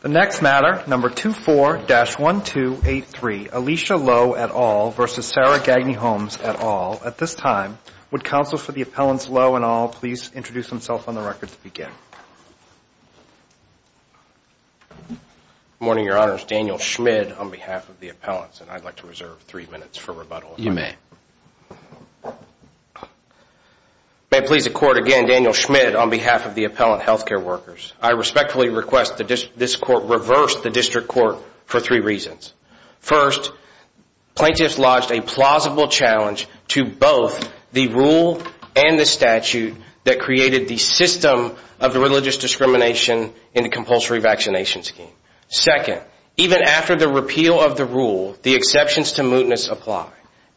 The next matter, number 24-1283, Alicia Lowe et al. v. Sarah Gagne-Holmes et al. At this time, would counsels for the appellants Lowe and all please introduce themselves on the record to begin? Good morning, Your Honors. Daniel Schmid on behalf of the appellants, and I'd like to reserve three minutes for rebuttal. You may. May it please the Court again, Daniel Schmid on behalf of the appellant healthcare workers. I respectfully request that this Court reverse the District Court for three reasons. First, plaintiffs lodged a plausible challenge to both the rule and the statute that created the system of the religious discrimination in the compulsory vaccination scheme. Second, even after the repeal of the rule, the exceptions to mootness apply.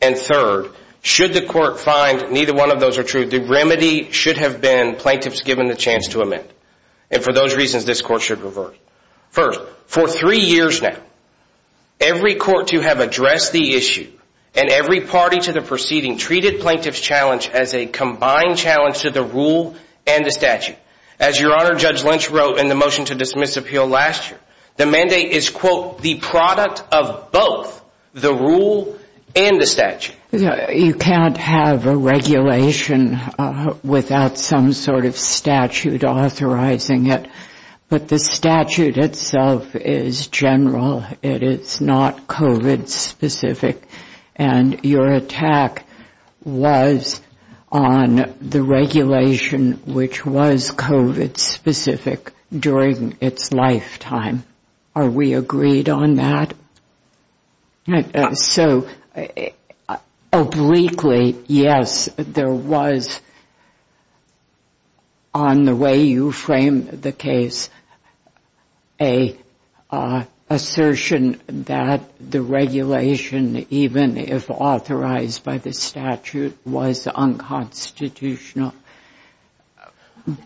And third, should the Court find neither one of those are true, the remedy should have been plaintiffs given the chance to amend. And for those reasons, this Court should revert. First, for three years now, every court to have addressed the issue and every party to the proceeding treated plaintiffs' challenge as a combined challenge to the rule and the statute. As Your Honor, Judge Lynch wrote in the motion to dismiss appeal last year, the mandate is, quote, the product of both the rule and the statute. You can't have a regulation without some sort of statute authorizing it. But the statute itself is general. It is not COVID-specific. And your attack was on the regulation, which was COVID-specific, during its lifetime. Are we agreed on that? So, obliquely, yes, there was, on the way you framed the case, an assertion that the regulation, even if authorized by the statute, was unconstitutional.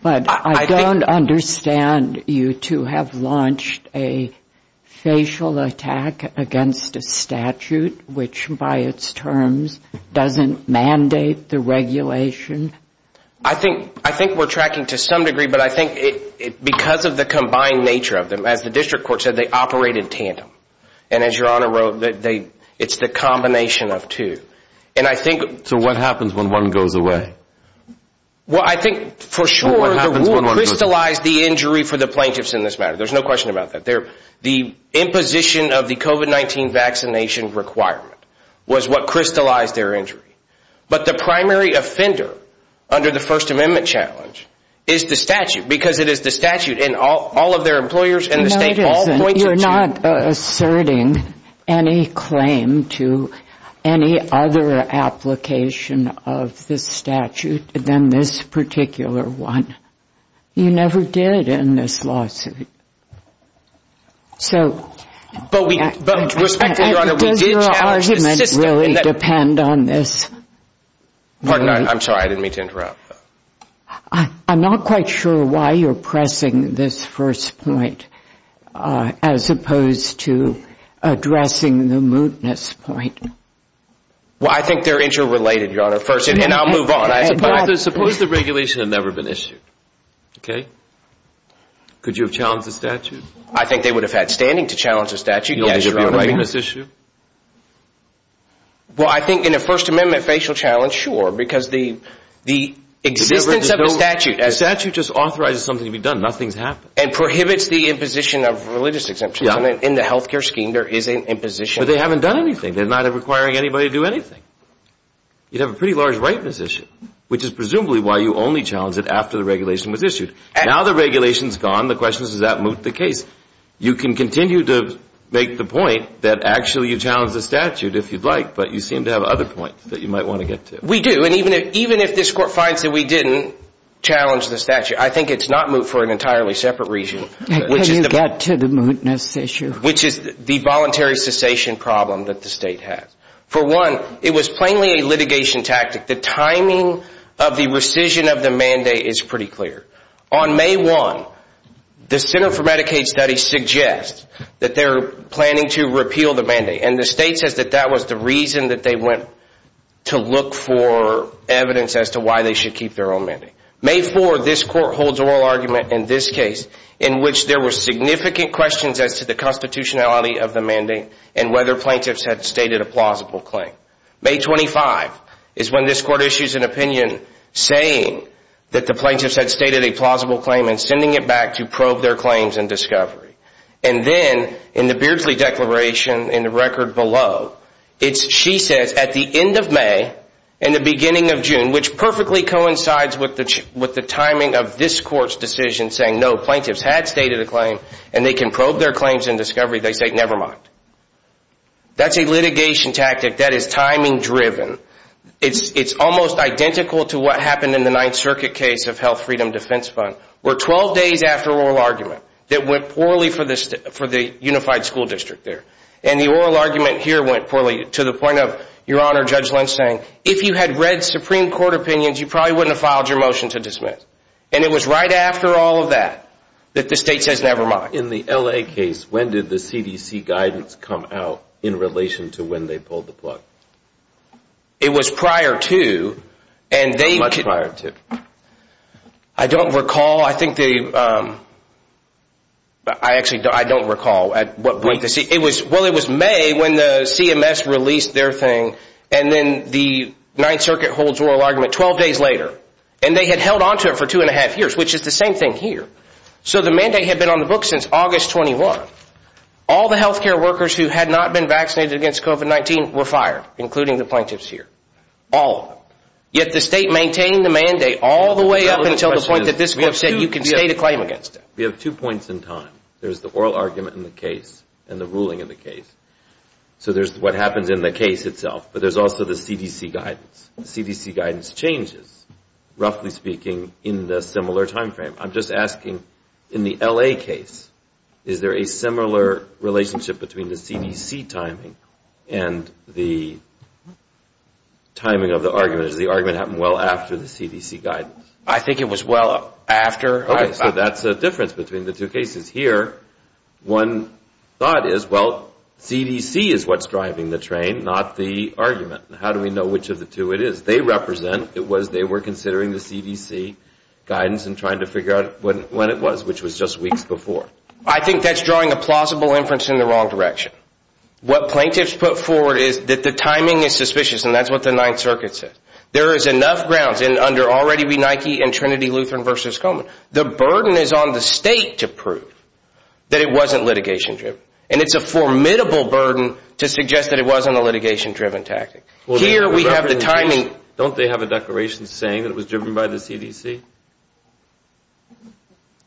But I don't understand you to have launched a facial attack against a statute which, by its terms, doesn't mandate the regulation. I think we're tracking to some degree, but I think because of the combined nature of them, as the District Court said, they operated tandem. And as Your Honor wrote, it's the combination of two. So what happens when one goes away? Well, I think, for sure, the rule crystallized the injury for the plaintiffs in this matter. There's no question about that. The imposition of the COVID-19 vaccination requirement was what crystallized their injury. But the primary offender, under the First Amendment challenge, is the statute, because it is the statute. And all of their employers in the state all point to it. You're not asserting any claim to any other application of this statute than this particular one. You never did in this lawsuit. But, respectfully, Your Honor, we did challenge the system. Does your argument really depend on this? I'm sorry, I didn't mean to interrupt. I'm not quite sure why you're pressing this first point as opposed to addressing the mootness point. Well, I think they're interrelated, Your Honor. And I'll move on. Suppose the regulation had never been issued, okay? Could you have challenged the statute? I think they would have had standing to challenge the statute. Yes, Your Honor. Well, I think in a First Amendment facial challenge, sure. Because the existence of the statute as... The statute just authorizes something to be done. Nothing's happened. And prohibits the imposition of religious exemptions. In the health care scheme, there is an imposition. But they haven't done anything. They're not requiring anybody to do anything. You'd have a pretty large ripeness issue, which is presumably why you only challenged it after the regulation was issued. Now the regulation's gone. The question is, does that moot the case? You can continue to make the point that actually you challenged the statute if you'd like. But you seem to have other points that you might want to get to. We do. And even if this Court finds that we didn't challenge the statute, I think it's not moot for an entirely separate reason. Can you get to the mootness issue? Which is the voluntary cessation problem that the State has. For one, it was plainly a litigation tactic. The timing of the rescission of the mandate is pretty clear. On May 1, the Center for Medicaid Studies suggests that they're planning to repeal the mandate. And the State says that that was the reason that they went to look for evidence as to why they should keep their own mandate. May 4, this Court holds oral argument in this case in which there were significant questions as to the constitutionality of the mandate and whether plaintiffs had stated a plausible claim. May 25 is when this Court issues an opinion saying that the plaintiffs had stated a plausible claim and sending it back to probe their claims and discovery. And then, in the Beardsley Declaration, in the record below, she says at the end of May and the beginning of June, which perfectly coincides with the timing of this Court's decision saying no, plaintiffs had stated a claim and they can probe their claims and discovery, they say never mind. That's a litigation tactic that is timing driven. It's almost identical to what happened in the Ninth Circuit case of Health Freedom Defense Fund. We're 12 days after oral argument that went poorly for the Unified School District there. And the oral argument here went poorly to the point of, Your Honor, Judge Lynch saying, if you had read Supreme Court opinions, you probably wouldn't have filed your motion to dismiss. And it was right after all of that that the State says never mind. In the L.A. case, when did the CDC guidance come out in relation to when they pulled the plug? It was prior to. Much prior to. I don't recall. I think they, I actually don't recall at what point. Well, it was May when the CMS released their thing. And then the Ninth Circuit holds oral argument 12 days later. And they had held onto it for two and a half years, which is the same thing here. So the mandate had been on the books since August 21. All the health care workers who had not been vaccinated against COVID-19 were fired, including the plaintiffs here. All of them. Yet the State maintained the mandate all the way up until the point that this court said you can stay to claim against it. We have two points in time. There's the oral argument in the case and the ruling in the case. So there's what happens in the case itself, but there's also the CDC guidance. The CDC guidance changes, roughly speaking, in the similar time frame. I'm just asking, in the L.A. case, is there a similar relationship between the CDC timing and the timing of the argument? Does the argument happen well after the CDC guidance? I think it was well after. Okay. So that's the difference between the two cases. Here, one thought is, well, CDC is what's driving the train, not the argument. How do we know which of the two it is? It was they were considering the CDC guidance and trying to figure out when it was, which was just weeks before. I think that's drawing a plausible inference in the wrong direction. What plaintiffs put forward is that the timing is suspicious, and that's what the Ninth Circuit said. There is enough grounds, and under already we Nike and Trinity Lutheran v. Coleman. The burden is on the State to prove that it wasn't litigation-driven. And it's a formidable burden to suggest that it wasn't a litigation-driven tactic. Here we have the timing. Don't they have a declaration saying that it was driven by the CDC?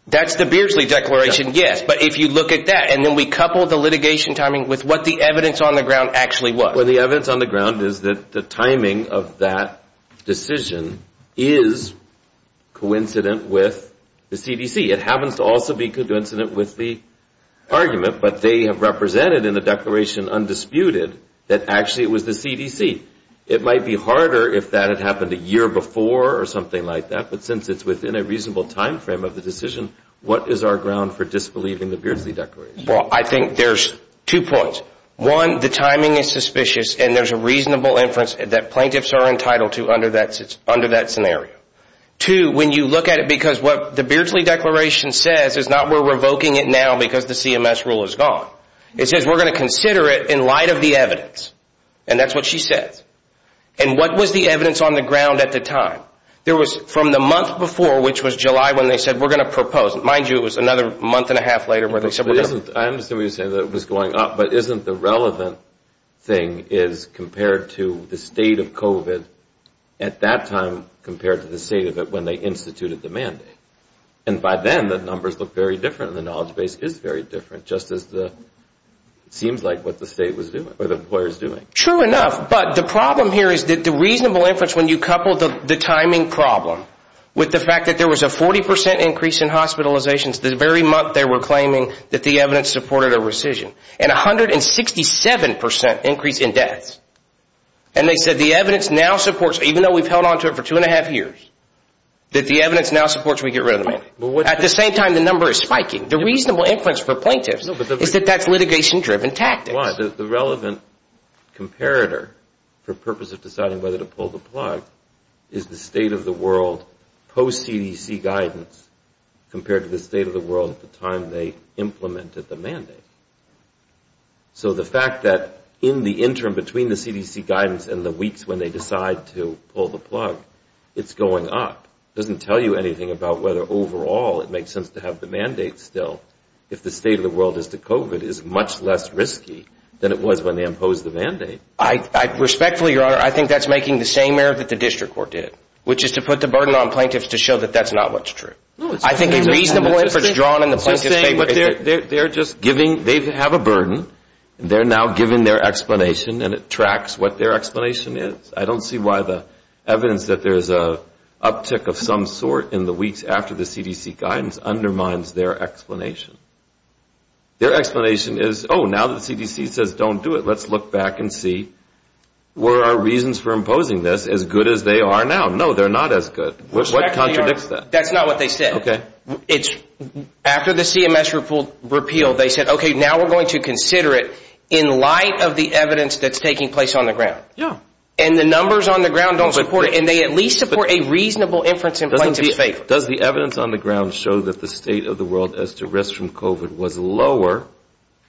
That's the Beardsley Declaration, yes. But if you look at that, and then we couple the litigation timing with what the evidence on the ground actually was. Well, the evidence on the ground is that the timing of that decision is coincident with the CDC. It happens to also be coincident with the argument. But they have represented in the declaration undisputed that actually it was the CDC. It might be harder if that had happened a year before or something like that. But since it's within a reasonable time frame of the decision, what is our ground for disbelieving the Beardsley Declaration? Well, I think there's two points. One, the timing is suspicious, and there's a reasonable inference that plaintiffs are entitled to under that scenario. Two, when you look at it, because what the Beardsley Declaration says is not we're revoking it now because the CMS rule is gone. It says we're going to consider it in light of the evidence. And that's what she says. And what was the evidence on the ground at the time? There was from the month before, which was July, when they said we're going to propose it. Mind you, it was another month and a half later where they said we're going to propose it. I understand what you're saying, that it was going up. But isn't the relevant thing is compared to the state of COVID at that time compared to the state of it when they instituted the mandate? And by then, the numbers look very different and the knowledge base is very different, just as it seems like what the state was doing or the employer is doing. True enough. But the problem here is that the reasonable inference when you couple the timing problem with the fact that there was a 40 percent increase in hospitalizations the very month they were claiming that the evidence supported a rescission and 167 percent increase in deaths. And they said the evidence now supports, even though we've held on to it for two and a half years, that the evidence now supports we get rid of the mandate. At the same time, the number is spiking. The reasonable inference for plaintiffs is that that's litigation-driven tactics. I understand why. The relevant comparator for the purpose of deciding whether to pull the plug is the state of the world post-CDC guidance compared to the state of the world at the time they implemented the mandate. So the fact that in the interim between the CDC guidance and the weeks when they decide to pull the plug, it's going up. It doesn't tell you anything about whether overall it makes sense to have the mandate still if the state of the world as to COVID is much less risky than it was when they imposed the mandate. Respectfully, Your Honor, I think that's making the same error that the district court did, which is to put the burden on plaintiffs to show that that's not what's true. I think a reasonable inference drawn in the plaintiff's favor is – They're just giving – they have a burden. They're now giving their explanation, and it tracks what their explanation is. I don't see why the evidence that there's an uptick of some sort in the weeks after the CDC guidance undermines their explanation. Their explanation is, oh, now that the CDC says don't do it, let's look back and see were our reasons for imposing this as good as they are now. No, they're not as good. What contradicts that? Respectfully, Your Honor, that's not what they said. Okay. After the CMS repeal, they said, okay, now we're going to consider it in light of the evidence that's taking place on the ground. Yeah. And the numbers on the ground don't support it, and they at least support a reasonable inference in plaintiff's favor. Does the evidence on the ground show that the state of the world as to risk from COVID was lower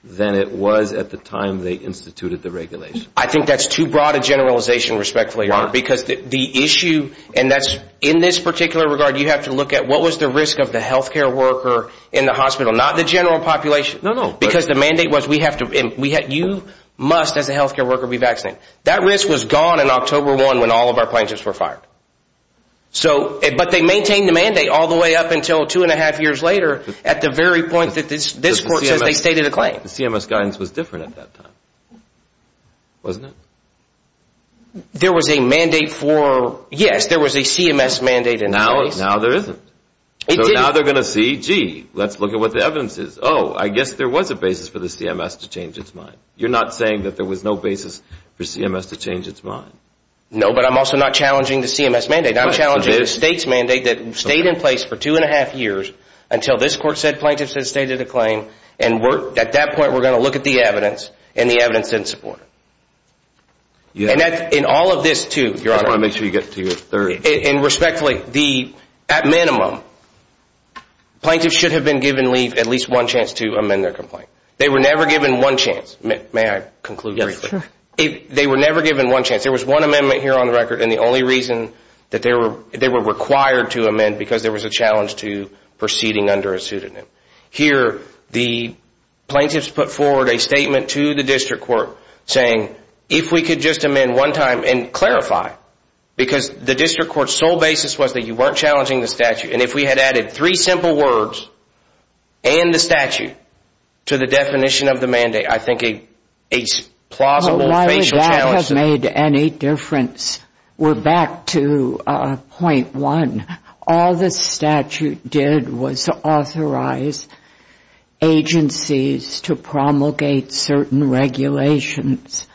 than it was at the time they instituted the regulation? I think that's too broad a generalization, respectfully, Your Honor, because the issue – and that's – in this particular regard, you have to look at what was the risk of the healthcare worker in the hospital, not the general population. No, no. Because the mandate was we have to – you must, as a healthcare worker, be vaccinated. That risk was gone in October 1 when all of our plaintiffs were fired. So – but they maintained the mandate all the way up until two and a half years later at the very point that this court says they stated a claim. The CMS guidance was different at that time, wasn't it? There was a mandate for – yes, there was a CMS mandate in place. Now there isn't. It didn't – So now they're going to see, gee, let's look at what the evidence is. Oh, I guess there was a basis for the CMS to change its mind. You're not saying that there was no basis for CMS to change its mind? No, but I'm also not challenging the CMS mandate. I'm challenging the state's mandate that stayed in place for two and a half years until this court said plaintiffs had stated a claim, and at that point we're going to look at the evidence, and the evidence didn't support it. And in all of this, too, Your Honor – I just want to make sure you get to your third. And respectfully, the – at minimum, plaintiffs should have been given leave at least one chance to amend their complaint. They were never given one chance. May I conclude briefly? Yes, sir. They were never given one chance. There was one amendment here on the record, and the only reason that they were required to amend, because there was a challenge to proceeding under a pseudonym. Here, the plaintiffs put forward a statement to the district court saying, if we could just amend one time and clarify, because the district court's sole basis was that you weren't challenging the statute. And if we had added three simple words and the statute to the definition of the mandate, I think a plausible facial challenge – But why would that have made any difference? We're back to point one. All the statute did was authorize agencies to promulgate certain regulations.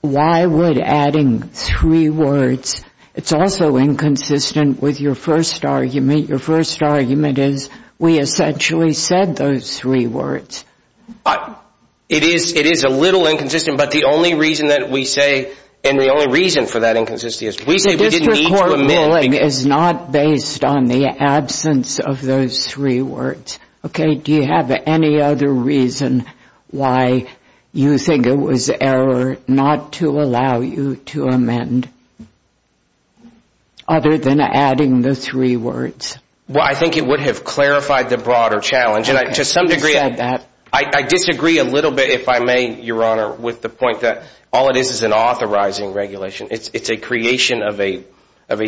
Why would adding three words – it's also inconsistent with your first argument. Your first argument is we essentially said those three words. It is a little inconsistent, but the only reason that we say – and the only reason for that inconsistency is we say we didn't need to amend – District court ruling is not based on the absence of those three words. Do you have any other reason why you think it was error not to allow you to amend, other than adding the three words? Well, I think it would have clarified the broader challenge, and to some degree – You said that. I disagree a little bit, if I may, Your Honor, with the point that all it is is an authorizing regulation. It's a creation of a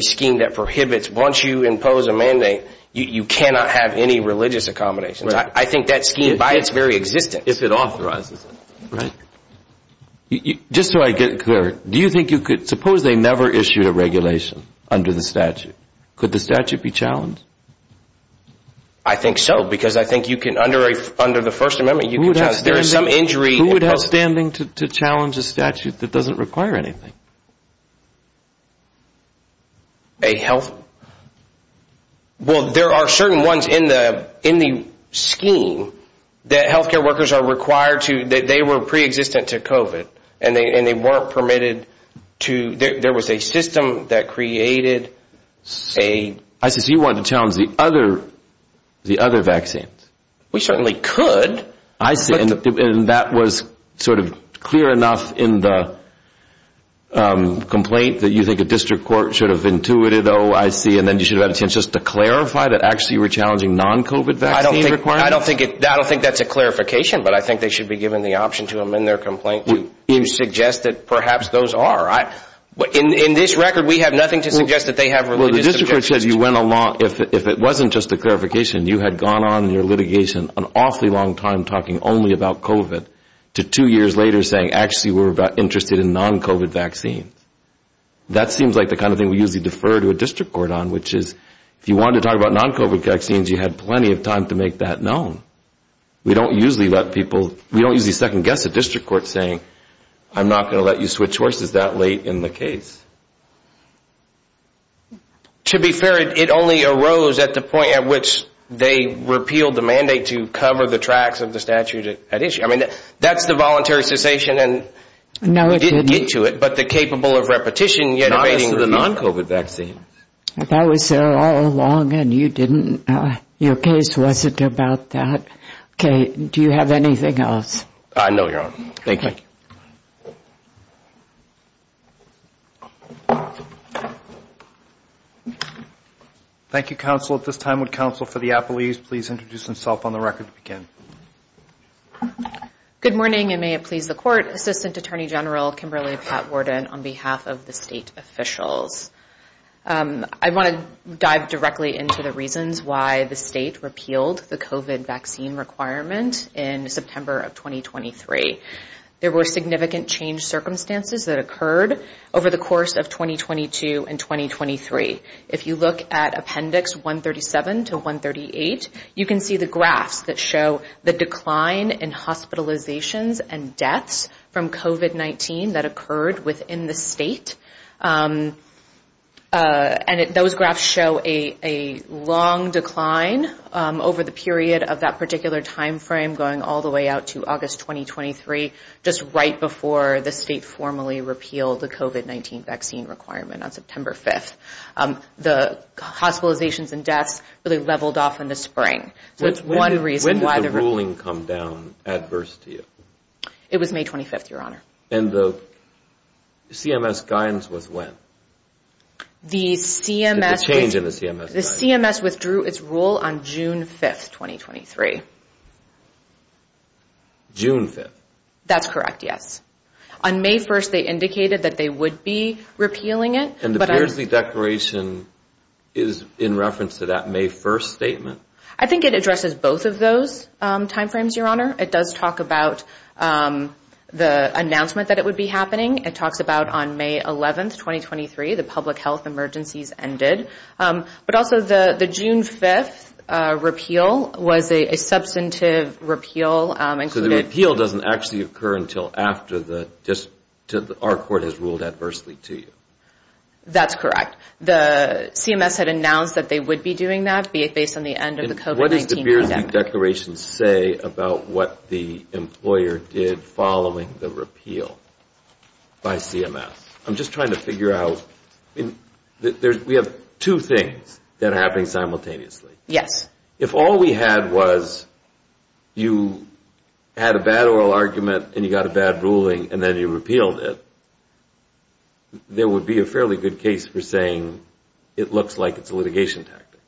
scheme that prohibits – once you impose a mandate, you cannot have any religious accommodations. I think that scheme, by its very existence – If it authorizes it. Just so I get it clear, do you think you could – suppose they never issued a regulation under the statute. Could the statute be challenged? I think so, because I think you can – under the First Amendment, you can challenge it. Who would have standing to challenge a statute that doesn't require anything? A health – well, there are certain ones in the scheme that health care workers are required to – that they were preexistent to COVID, and they weren't permitted to – there was a system that created a – I see. So you wanted to challenge the other vaccines. We certainly could. I see. And that was sort of clear enough in the complaint that you think a district court should have intuited, oh, I see, and then you should have had a chance just to clarify that actually you were challenging non-COVID vaccine requirements? I don't think that's a clarification, but I think they should be given the option to amend their complaint to suggest that perhaps those are. In this record, we have nothing to suggest that they have religious – The district court said you went along – if it wasn't just a clarification, you had gone on in your litigation an awfully long time talking only about COVID to two years later saying actually we're interested in non-COVID vaccines. That seems like the kind of thing we usually defer to a district court on, which is if you wanted to talk about non-COVID vaccines, you had plenty of time to make that known. We don't usually let people – we don't usually second-guess a district court saying, I'm not going to let you switch horses that late in the case. To be fair, it only arose at the point at which they repealed the mandate to cover the tracks of the statute at issue. I mean, that's the voluntary cessation and – No, it didn't. You didn't get to it, but the capable of repetition – Not as to the non-COVID vaccine. That was there all along and you didn't – your case wasn't about that. Okay. Do you have anything else? No, Your Honor. Thank you. Thank you, counsel. At this time, would counsel for the apologies please introduce himself on the record to begin? Good morning and may it please the court. Assistant Attorney General Kimberly Pat Worden on behalf of the state officials. I want to dive directly into the reasons why the state repealed the COVID vaccine requirement in September of 2023. There were significant change circumstances that occurred over the course of 2022 and 2023. If you look at Appendix 137 to 138, you can see the graphs that show the decline in hospitalizations and deaths from COVID-19 that occurred within the state. And those graphs show a long decline over the period of that particular timeframe going all the way out to August 2023, just right before the state formally repealed the COVID-19 vaccine requirement on September 5th. The hospitalizations and deaths really leveled off in the spring. When did the ruling come down adverse to you? It was May 25th, Your Honor. And the CMS guidance was when? The CMS... The change in the CMS guidance. The CMS withdrew its rule on June 5th, 2023. June 5th? That's correct, yes. On May 1st, they indicated that they would be repealing it. And the Beersley Declaration is in reference to that May 1st statement? I think it addresses both of those timeframes, Your Honor. It does talk about the announcement that it would be happening. It talks about on May 11th, 2023, the public health emergencies ended. But also the June 5th repeal was a substantive repeal. So the repeal doesn't actually occur until after our court has ruled adversely to you? That's correct. The CMS had announced that they would be doing that based on the end of the COVID-19 pandemic. What does the Beersley Declaration say about what the employer did following the repeal by CMS? I'm just trying to figure out... We have two things that are happening simultaneously. Yes. If all we had was you had a bad oral argument and you got a bad ruling and then you repealed it, there would be a fairly good case for saying it looks like it's a litigation tactic.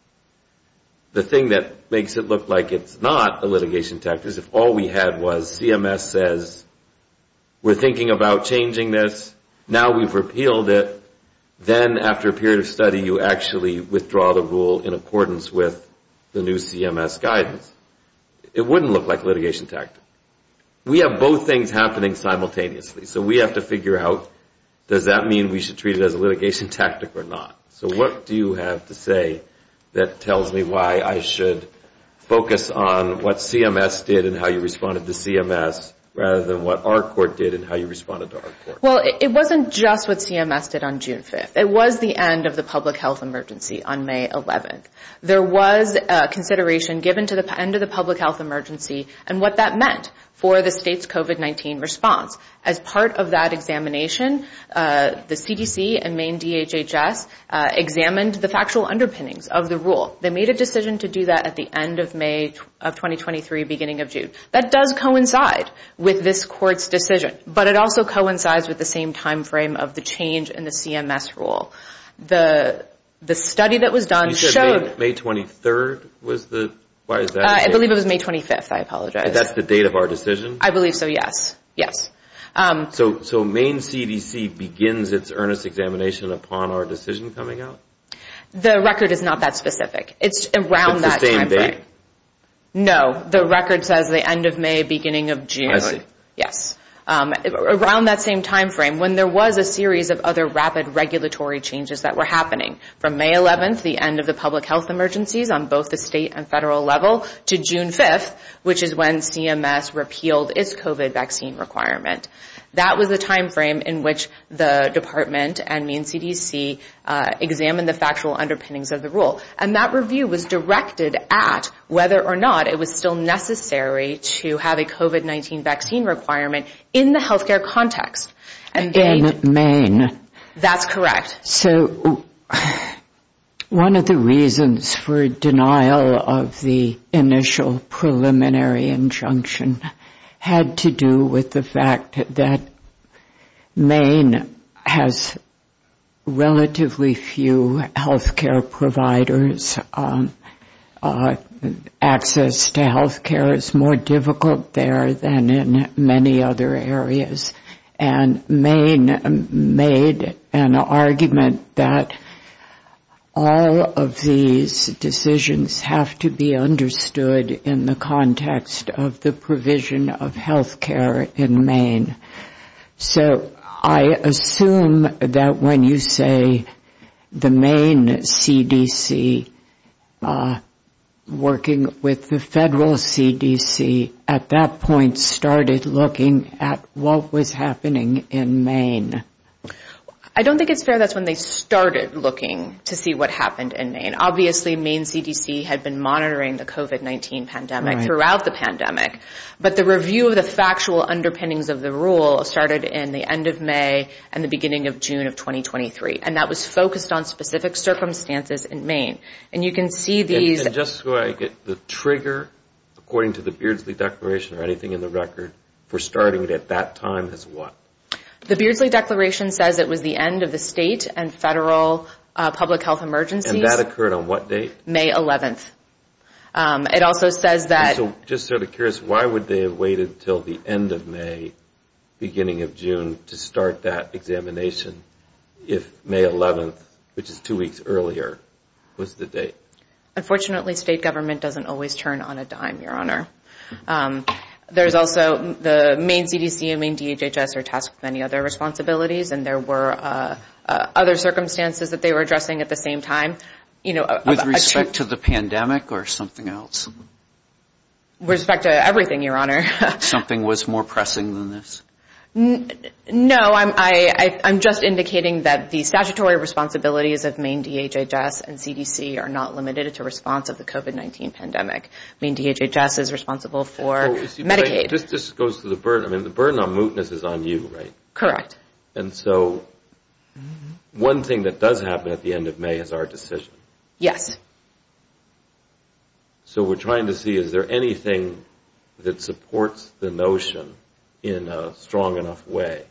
The thing that makes it look like it's not a litigation tactic is if all we had was CMS says, we're thinking about changing this, now we've repealed it, then after a period of study you actually withdraw the rule in accordance with the new CMS guidance. It wouldn't look like a litigation tactic. We have both things happening simultaneously. So we have to figure out, does that mean we should treat it as a litigation tactic or not? So what do you have to say that tells me why I should focus on what CMS did and how you responded to CMS rather than what our court did and how you responded to our court? Well, it wasn't just what CMS did on June 5th. It was the end of the public health emergency on May 11th. There was consideration given to the end of the public health emergency and what that meant for the state's COVID-19 response. As part of that examination, the CDC and Maine DHHS examined the factual underpinnings of the rule. They made a decision to do that at the end of May of 2023, beginning of June. That does coincide with this court's decision, but it also coincides with the same time frame of the change in the CMS rule. The study that was done showed... You said May 23rd was the... why is that? I believe it was May 25th. I apologize. That's the date of our decision? I believe so, yes. Yes. So Maine CDC begins its earnest examination upon our decision coming out? The record is not that specific. It's around that time frame. It's the same date? No. The record says the end of May, beginning of June. I see. Yes. Around that same time frame when there was a series of other rapid regulatory changes that were happening from May 11th, the end of the public health emergencies on both the state and federal level, to June 5th, which is when CMS repealed its COVID vaccine requirement. That was the time frame in which the department and Maine CDC examined the factual underpinnings of the rule. And that review was directed at whether or not it was still necessary to have a COVID-19 vaccine requirement in the healthcare context. In Maine? That's correct. So one of the reasons for denial of the initial preliminary injunction had to do with the fact that Maine has relatively few healthcare providers. Access to healthcare is more difficult there than in many other areas. And Maine made an argument that all of these decisions have to be understood in the context of the provision of healthcare in Maine. So I assume that when you say the Maine CDC working with the federal CDC, at that point started looking at what was happening in Maine? I don't think it's fair that's when they started looking to see what happened in Maine. Obviously Maine CDC had been monitoring the COVID-19 pandemic throughout the pandemic. But the review of the factual underpinnings of the rule started in the end of May and the beginning of June of 2023. And that was focused on specific circumstances in Maine. And you can see these. And just so I get the trigger, according to the Beardsley Declaration or anything in the record, for starting at that time is what? The Beardsley Declaration says it was the end of the state and federal public health emergencies. And that occurred on what date? May 11th. I'm just sort of curious, why would they have waited until the end of May, beginning of June, to start that examination if May 11th, which is two weeks earlier, was the date? Unfortunately, state government doesn't always turn on a dime, Your Honor. There's also the Maine CDC and Maine DHHS are tasked with many other responsibilities. And there were other circumstances that they were addressing at the same time. With respect to the pandemic or something else? With respect to everything, Your Honor. Something was more pressing than this? No, I'm just indicating that the statutory responsibilities of Maine DHHS and CDC are not limited to response of the COVID-19 pandemic. Maine DHHS is responsible for Medicaid. This goes to the burden. The burden on mootness is on you, right? Correct. And so one thing that does happen at the end of May is our decision. Yes. So we're trying to see, is there anything that supports the notion in a strong enough way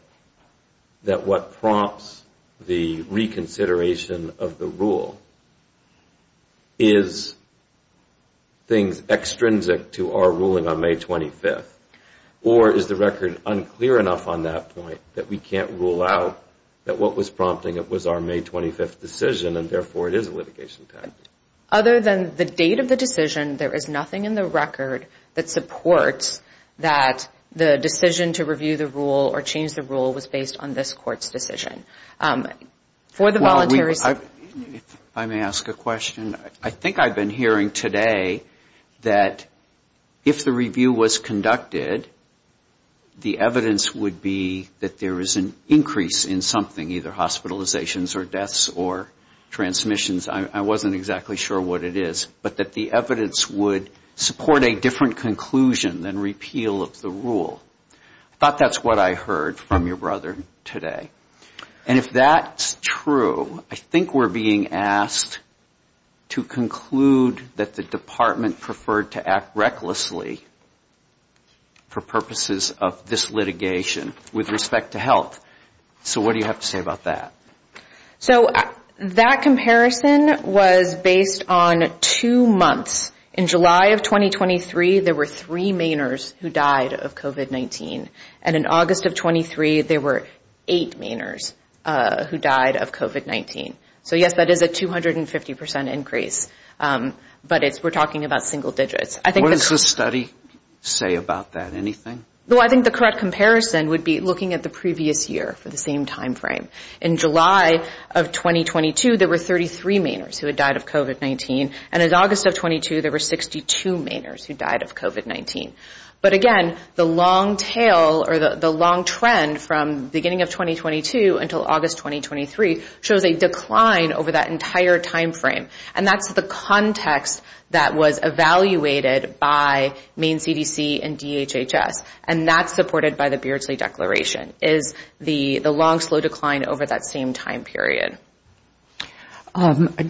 that what prompts the reconsideration of the rule is things extrinsic to our ruling on May 25th? Or is the record unclear enough on that point that we can't rule out that what was prompting it was our May 25th decision and therefore it is a litigation time? Other than the date of the decision, there is nothing in the record that supports that the decision to review the rule or change the rule was based on this Court's decision. For the voluntary... If I may ask a question. I think I've been hearing today that if the review was conducted, the evidence would be that there is an increase in something, either hospitalizations or deaths or transmissions. I wasn't exactly sure what it is. But that the evidence would support a different conclusion than repeal of the rule. I thought that's what I heard from your brother today. And if that's true, I think we're being asked to conclude that the Department preferred to act recklessly for purposes of this litigation with respect to health. So what do you have to say about that? So that comparison was based on two months. In July of 2023, there were three Mainers who died of COVID-19. And in August of 23, there were eight Mainers who died of COVID-19. So yes, that is a 250% increase. But we're talking about single digits. What does the study say about that? Anything? Well, I think the correct comparison would be looking at the previous year for the same timeframe. In July of 2022, there were 33 Mainers who had died of COVID-19. And in August of 22, there were 62 Mainers who died of COVID-19. But again, the long tail or the long trend from the beginning of 2022 until August 2023 shows a decline over that entire timeframe. And that's the context that was evaluated by Maine CDC and DHHS. And that's supported by the Beardsley Declaration is the long, slow decline over that same time period.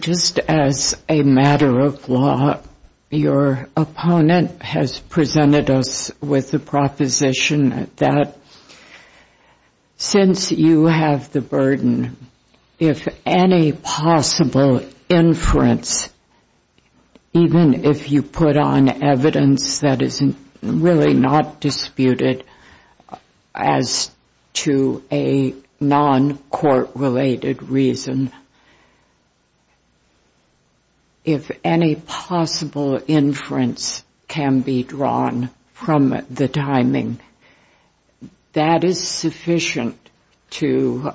Just as a matter of law, your opponent has presented us with the proposition that since you have the burden, if any possible inference, even if you put on evidence that is really not disputable, as to a non-court-related reason, if any possible inference can be drawn from the timing, that is sufficient to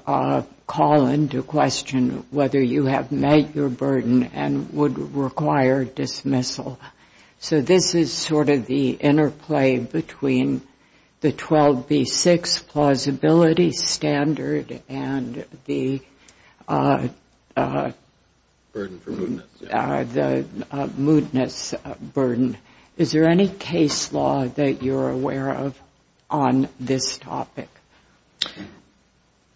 call into question whether you have met your burden and would require dismissal. So this is sort of the interplay between the 12B6 plausibility standard and the moodiness burden. Is there any case law that you're aware of on this topic?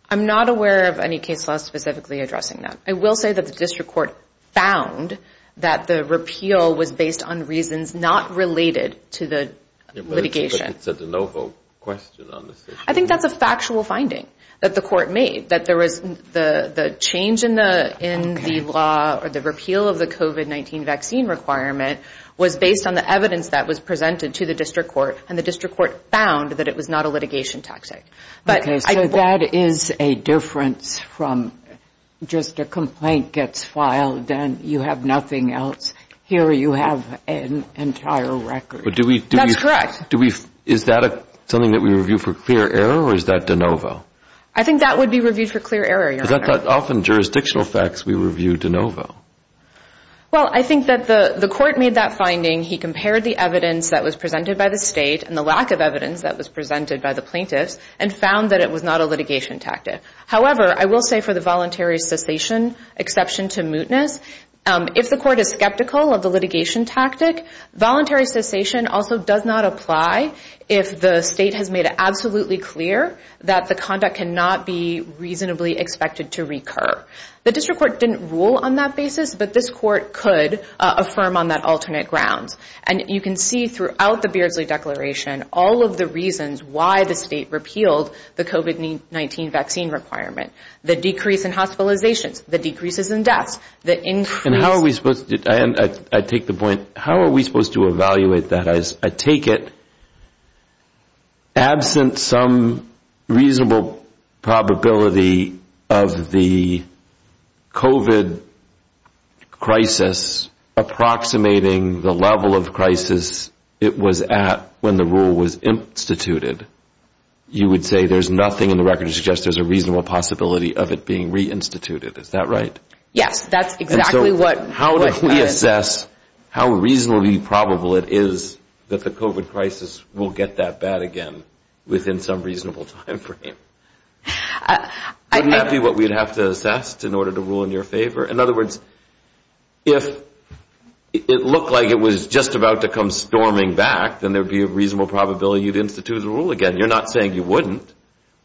I'm not aware of any case law specifically addressing that. I will say that the district court found that the repeal was based on reasons not related to the litigation. But it's a de novo question on this issue. I think that's a factual finding that the court made, that there was the change in the law or the repeal of the COVID-19 vaccine requirement was based on the evidence that was presented to the district court and the district court found that it was not a litigation tactic. So that is a difference from just a complaint gets filed and you have nothing else. Here you have an entire record. That's correct. Is that something that we review for clear error or is that de novo? I think that would be reviewed for clear error, Your Honor. Is that often jurisdictional facts we review de novo? Well, I think that the court made that finding. He compared the evidence that was presented by the State and the lack of evidence that was presented by the plaintiffs and found that it was not a litigation tactic. However, I will say for the voluntary cessation exception to mootness, if the court is skeptical of the litigation tactic, voluntary cessation also does not apply if the State has made it absolutely clear that the conduct cannot be reasonably expected to recur. The district court didn't rule on that basis, but this court could affirm on that alternate ground. And you can see throughout the Beardsley Declaration all of the reasons why the State repealed the COVID-19 vaccine requirement. The decrease in hospitalizations. The decreases in deaths. I take the point, how are we supposed to evaluate that? I take it, absent some reasonable probability of the COVID crisis approximating the level of crisis it was at when the rule was instituted, you would say there's nothing in the record that suggests there's a reasonable possibility of it being reinstituted. Is that right? Yes, that's exactly what that is. And so how do we assess how reasonably probable it is that the COVID crisis will get that bad again within some reasonable timeframe? Wouldn't that be what we'd have to assess in order to rule in your favor? In other words, if it looked like it was just about to come storming back, then there would be a reasonable probability you'd institute a rule again. You're not saying you wouldn't.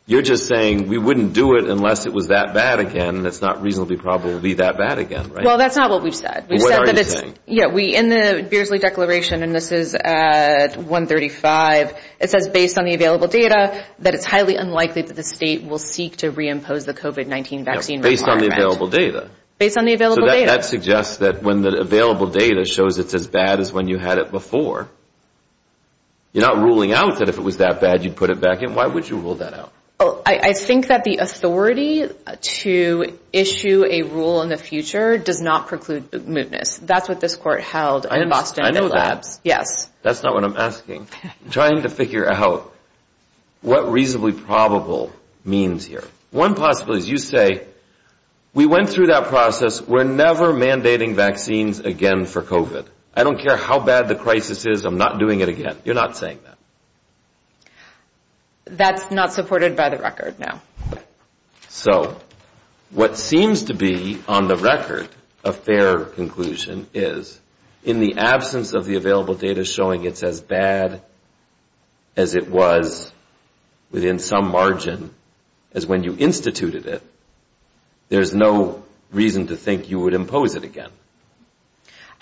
You're just saying we wouldn't do it unless it was that bad again and it's not reasonably probable it would be that bad again. Well, that's not what we've said. In the Beardsley Declaration, and this is at 135, it says based on the available data that it's highly unlikely that the state will seek to reimpose the COVID-19 vaccine requirement. Based on the available data? So that suggests that when the available data shows it's as bad as when you had it before, you're not ruling out that if it was that bad you'd put it back in. Why would you rule that out? I think that the authority to issue a rule in the future does not preclude mootness. That's what this court held in Boston. That's not what I'm asking. I'm trying to figure out what reasonably probable means here. One possibility is you say we went through that process. We're never mandating vaccines again for COVID. I don't care how bad the crisis is. I'm not doing it again. You're not saying that. That's not supported by the record, no. So what seems to be on the record a fair conclusion is in the absence of the available data showing it's as bad as it was within some margin as when you instituted it, there's no reason to think you would impose it again.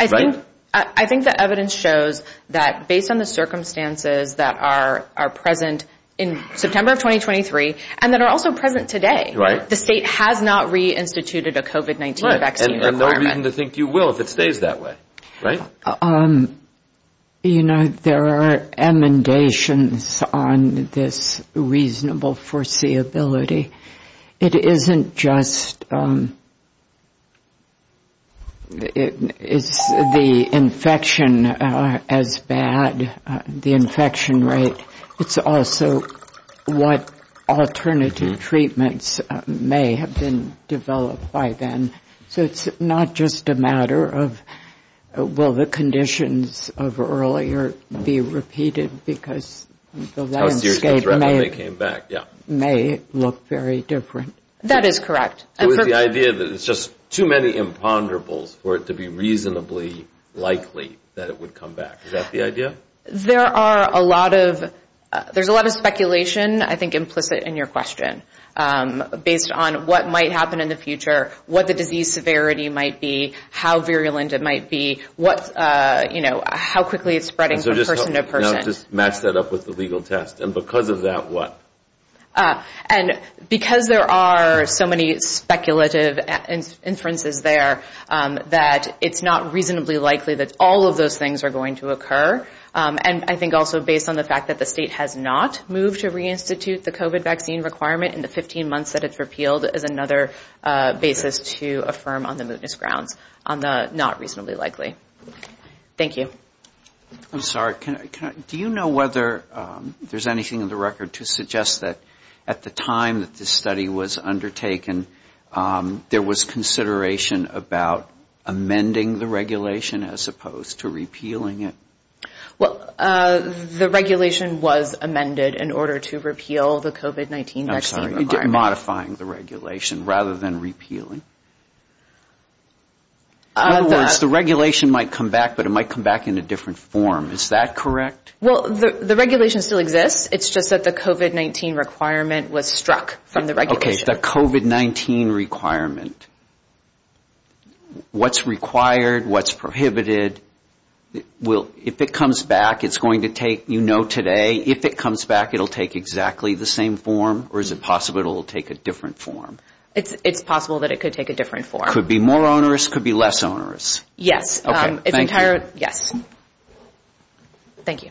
Right? I think the evidence shows that based on the circumstances that are present in September of 2023 and that are also present today, the state has not reinstituted a COVID-19 vaccine requirement. And no reason to think you will if it stays that way. There are amendations on this reasonable foreseeability. It isn't just the infection as bad, the infection rate. It's also what alternative treatments may have been developed by then. So it's not just a matter of will the conditions of earlier be repeated because the landscape may look very different. That is correct. The idea that it's just too many imponderables for it to be reasonably likely that it would come back. Is that the idea? There's a lot of speculation implicit in your question based on what might happen in the future, what the disease severity might be, how virulent it might be, how quickly it's spreading from person to person. Match that up with the legal test. And because of that, what? Because there are so many speculative inferences there, that it's not reasonably likely that all of those things are going to occur. And I think also based on the fact that the state has not moved to reinstitute the COVID vaccine requirement in the 15 months that it's repealed is another basis to affirm on the mootness grounds on the not reasonably likely. Thank you. Do you know whether there's anything in the record to suggest that at the time that this study was undertaken, there was consideration about amending the regulation as opposed to repealing it? Well, the regulation was amended in order to repeal the COVID-19 vaccine requirement. I'm sorry, modifying the regulation rather than repealing. In other words, the regulation might come back, but it might come back in a different form. Is that correct? Well, the regulation still exists. It's just that the COVID-19 requirement was struck from the regulation. Okay, the COVID-19 requirement. What's required? What's prohibited? If it comes back, it's going to take, you know today, if it comes back, it'll take exactly the same form? Or is it possible it'll take a different form? It's possible that it could take a different form. Could be more onerous? Could be less onerous? Yes. Thank you.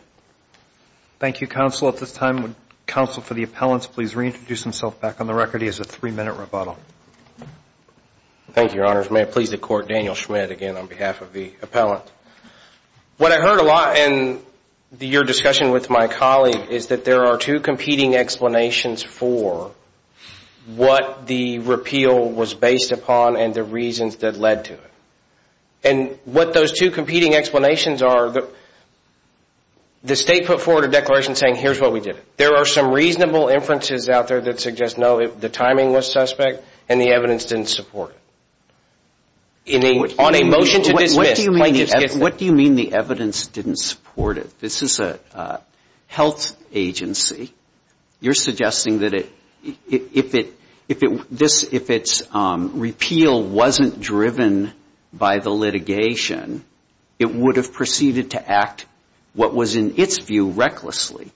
Thank you, counsel. At this time, would counsel for the appellants please reintroduce himself back on the record? He has a three-minute rebuttal. Thank you, your honors. May it please the court, Daniel Schmidt again on behalf of the appellant. What I heard a lot in your discussion with my colleague is that there are two competing explanations for what the repeal was based upon and the reasons that led to it. What those two competing explanations are, the state put forward a declaration saying here's what we did. There are some reasonable inferences out there that suggest no, the timing was suspect and the evidence didn't support it. On a motion to dismiss. What do you mean the evidence didn't support it? This is a health agency. You're suggesting that if its repeal wasn't driven by the litigation, it would have proceeded to act what was in its view recklessly.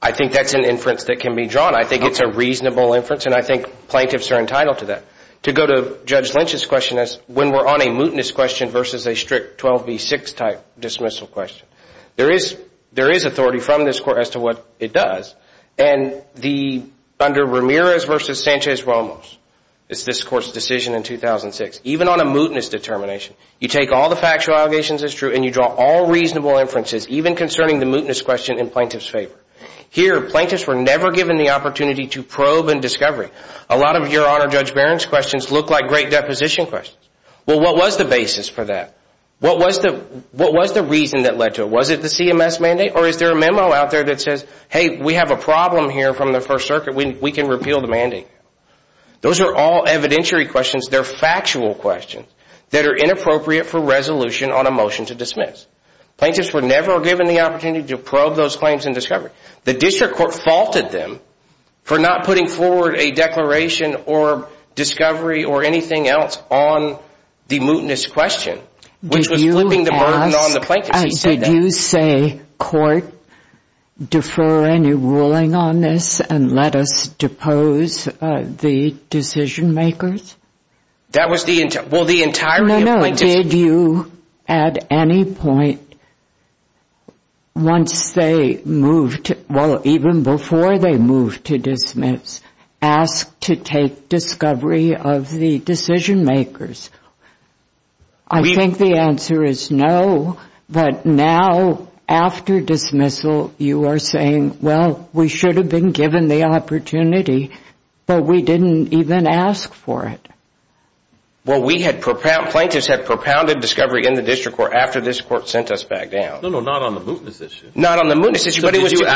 I think that's an inference that can be drawn. I think it's a reasonable inference and I think plaintiffs are entitled to that. To go to Judge Lynch's question as when we're on a mutinous question versus a strict 12 v. 6 type dismissal question. There is authority from this court as to what it does. Under Ramirez v. Sanchez-Ramos it's this court's decision in 2006. Even on a mutinous determination, you take all the factual allegations as true and you draw all reasonable inferences even concerning the mutinous question in plaintiff's favor. Here, plaintiffs were never given the opportunity to probe and discover. A lot of your Honor, Judge Barron's questions look like great deposition questions. Well, what was the basis for that? What was the reason that led to it? Was it the CMS mandate or is there a memo out there that says, hey, we have a problem here from the First Circuit. We can repeal the mandate. Those are all evidentiary questions. They're factual questions that are inappropriate for resolution on a motion to dismiss. Plaintiffs were never given the opportunity to probe those claims and discover. The district court faulted them for not putting forward a declaration or discovery or anything else on the mutinous question which was flipping the burden on the plaintiffs. Did you say, court, defer any ruling on this and let us depose the decision makers? That was the entire... No, no. Did you, at any point, once they moved, well, even before they moved to dismiss, ask to take discovery of the decision makers? I think the answer is no, but now, after dismissal, you are saying, well, we should have been given the opportunity, but we didn't even ask for it. Well, we had... Plaintiffs had propounded discovery in the district court after the district court sent us back down. No, no, not on the mutinous issue. Not on the mutinous issue, but it was... Did you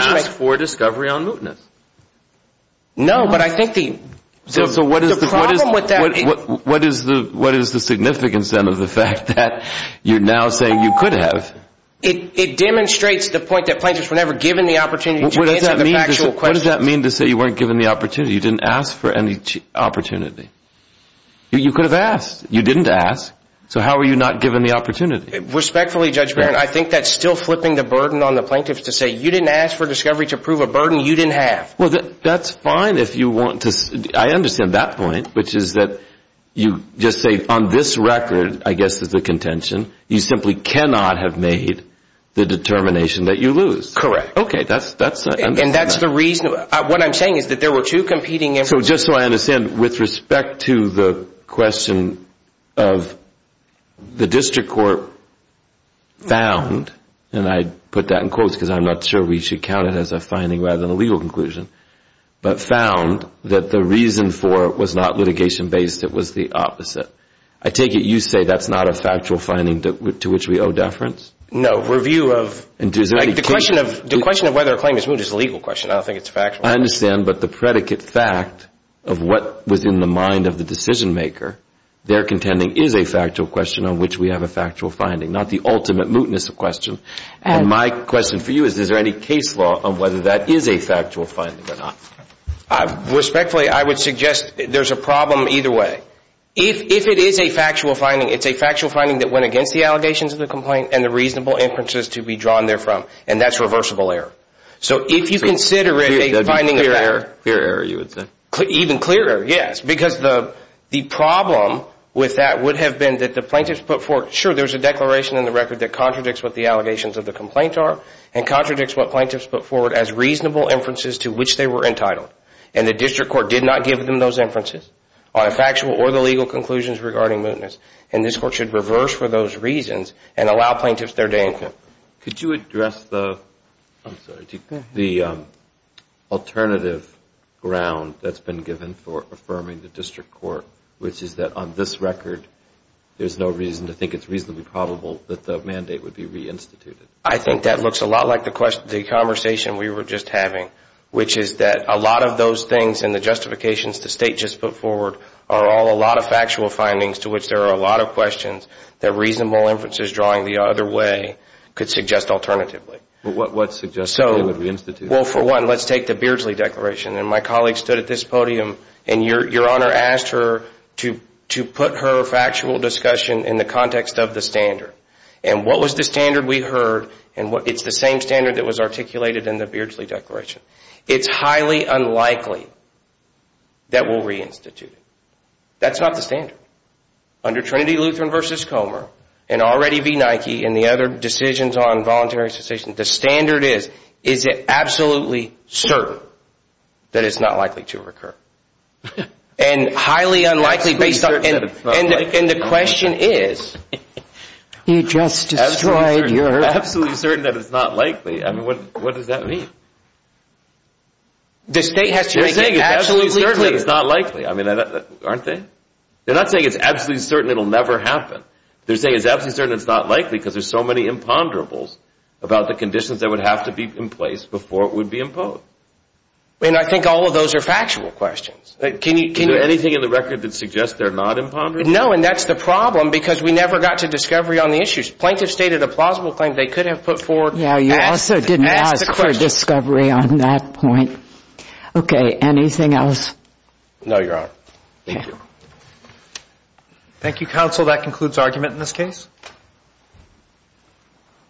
ask for discovery on mutinous? No, but I think the problem with that... So what is the significance, then, of the fact that you're now saying you could have? It demonstrates the point that plaintiffs were never given the opportunity to answer the factual questions. What does that mean to say you weren't given the opportunity? You didn't ask for any opportunity. You could have asked. You didn't ask. So how were you not given the opportunity? Respectfully, Judge Barron, I think that's still flipping the burden on the plaintiffs to say you didn't ask for discovery to prove a burden you didn't have. Well, that's fine if you want to... I understand that point, which is that you just say, on this record, I guess is the contention, you simply cannot have made the determination that you lose. Correct. And that's the reason... What I'm saying is that there were two competing... So just so I understand, with respect to the question of the district court found, and I put that in quotes because I'm not sure we should count it as a finding rather than a legal conclusion, but found that the reason for it was not litigation-based, it was the opposite. I take it you say that's not a factual finding to which we owe deference? No. The question of whether a claim is moved is a legal question. I don't think it's factual. I understand, but the predicate fact of what was in the mind of the decision maker they're contending is a factual question on which we have a factual finding, not the ultimate mootness of question. And my question for you is, is there any case law on whether that is a factual finding or not? Respectfully, I would suggest there's a problem either way. If it is a factual finding, it's a factual finding that went against the allegations of the complaint and the reasonable inferences to be drawn there from, and that's reversible error. So if you consider it a finding of that... Clear error, you would say? Even clearer, yes, because the problem with that would have been that the plaintiffs put forward, sure, there's a declaration in the record that contradicts what the allegations of the complaint are and contradicts what plaintiffs put forward as reasonable inferences to which they were entitled, and the district court did not give them those inferences on a factual or the legal conclusions regarding mootness, and this court should reverse for those reasons and allow plaintiffs their day in court. Could you address the alternative ground that's been given for affirming the district court, which is that on this record there's no reason to think it's reasonably probable that the mandate would be reinstituted? I think that looks a lot like the conversation we were just having, which is that a lot of those things and the justifications the State just put forward are all a lot of factual findings to which there are a lot of questions that reasonable inferences drawing the other way could suggest alternatively. What suggests it would be reinstituted? Well, for one, let's take the Beardsley Declaration, and my colleague stood at this podium and Your Honor asked her to put her factual discussion in the context of the standard, and what was the standard we heard, and it's the same standard that was articulated in the Beardsley Declaration. It's highly unlikely that we'll reinstitute it. That's not the standard. Under Trinity Lutheran v. Comer, and already v. Nike and the other decisions on voluntary cessation, the standard is, is it absolutely certain that it's not likely to recur? And highly unlikely based on... And the question is... Absolutely certain that it's not likely. I mean, what does that mean? The state has to make it absolutely clear. They're saying it's absolutely certain it's not likely. I mean, aren't they? They're not saying it's absolutely certain it'll never happen. They're saying it's absolutely certain it's not likely because there's so many imponderables about the conditions that would have to be in place before it would be imposed. And I think all of those are factual questions. Can you... Is there anything in the record that suggests they're not imponderable? No, and that's the problem because we never got to discovery on the issues. Plaintiff stated a plausible claim they could have put forward. Yeah, you also didn't ask for discovery on that point. Okay, anything else? No, Your Honor. Thank you. Thank you, counsel. That concludes argument in this case.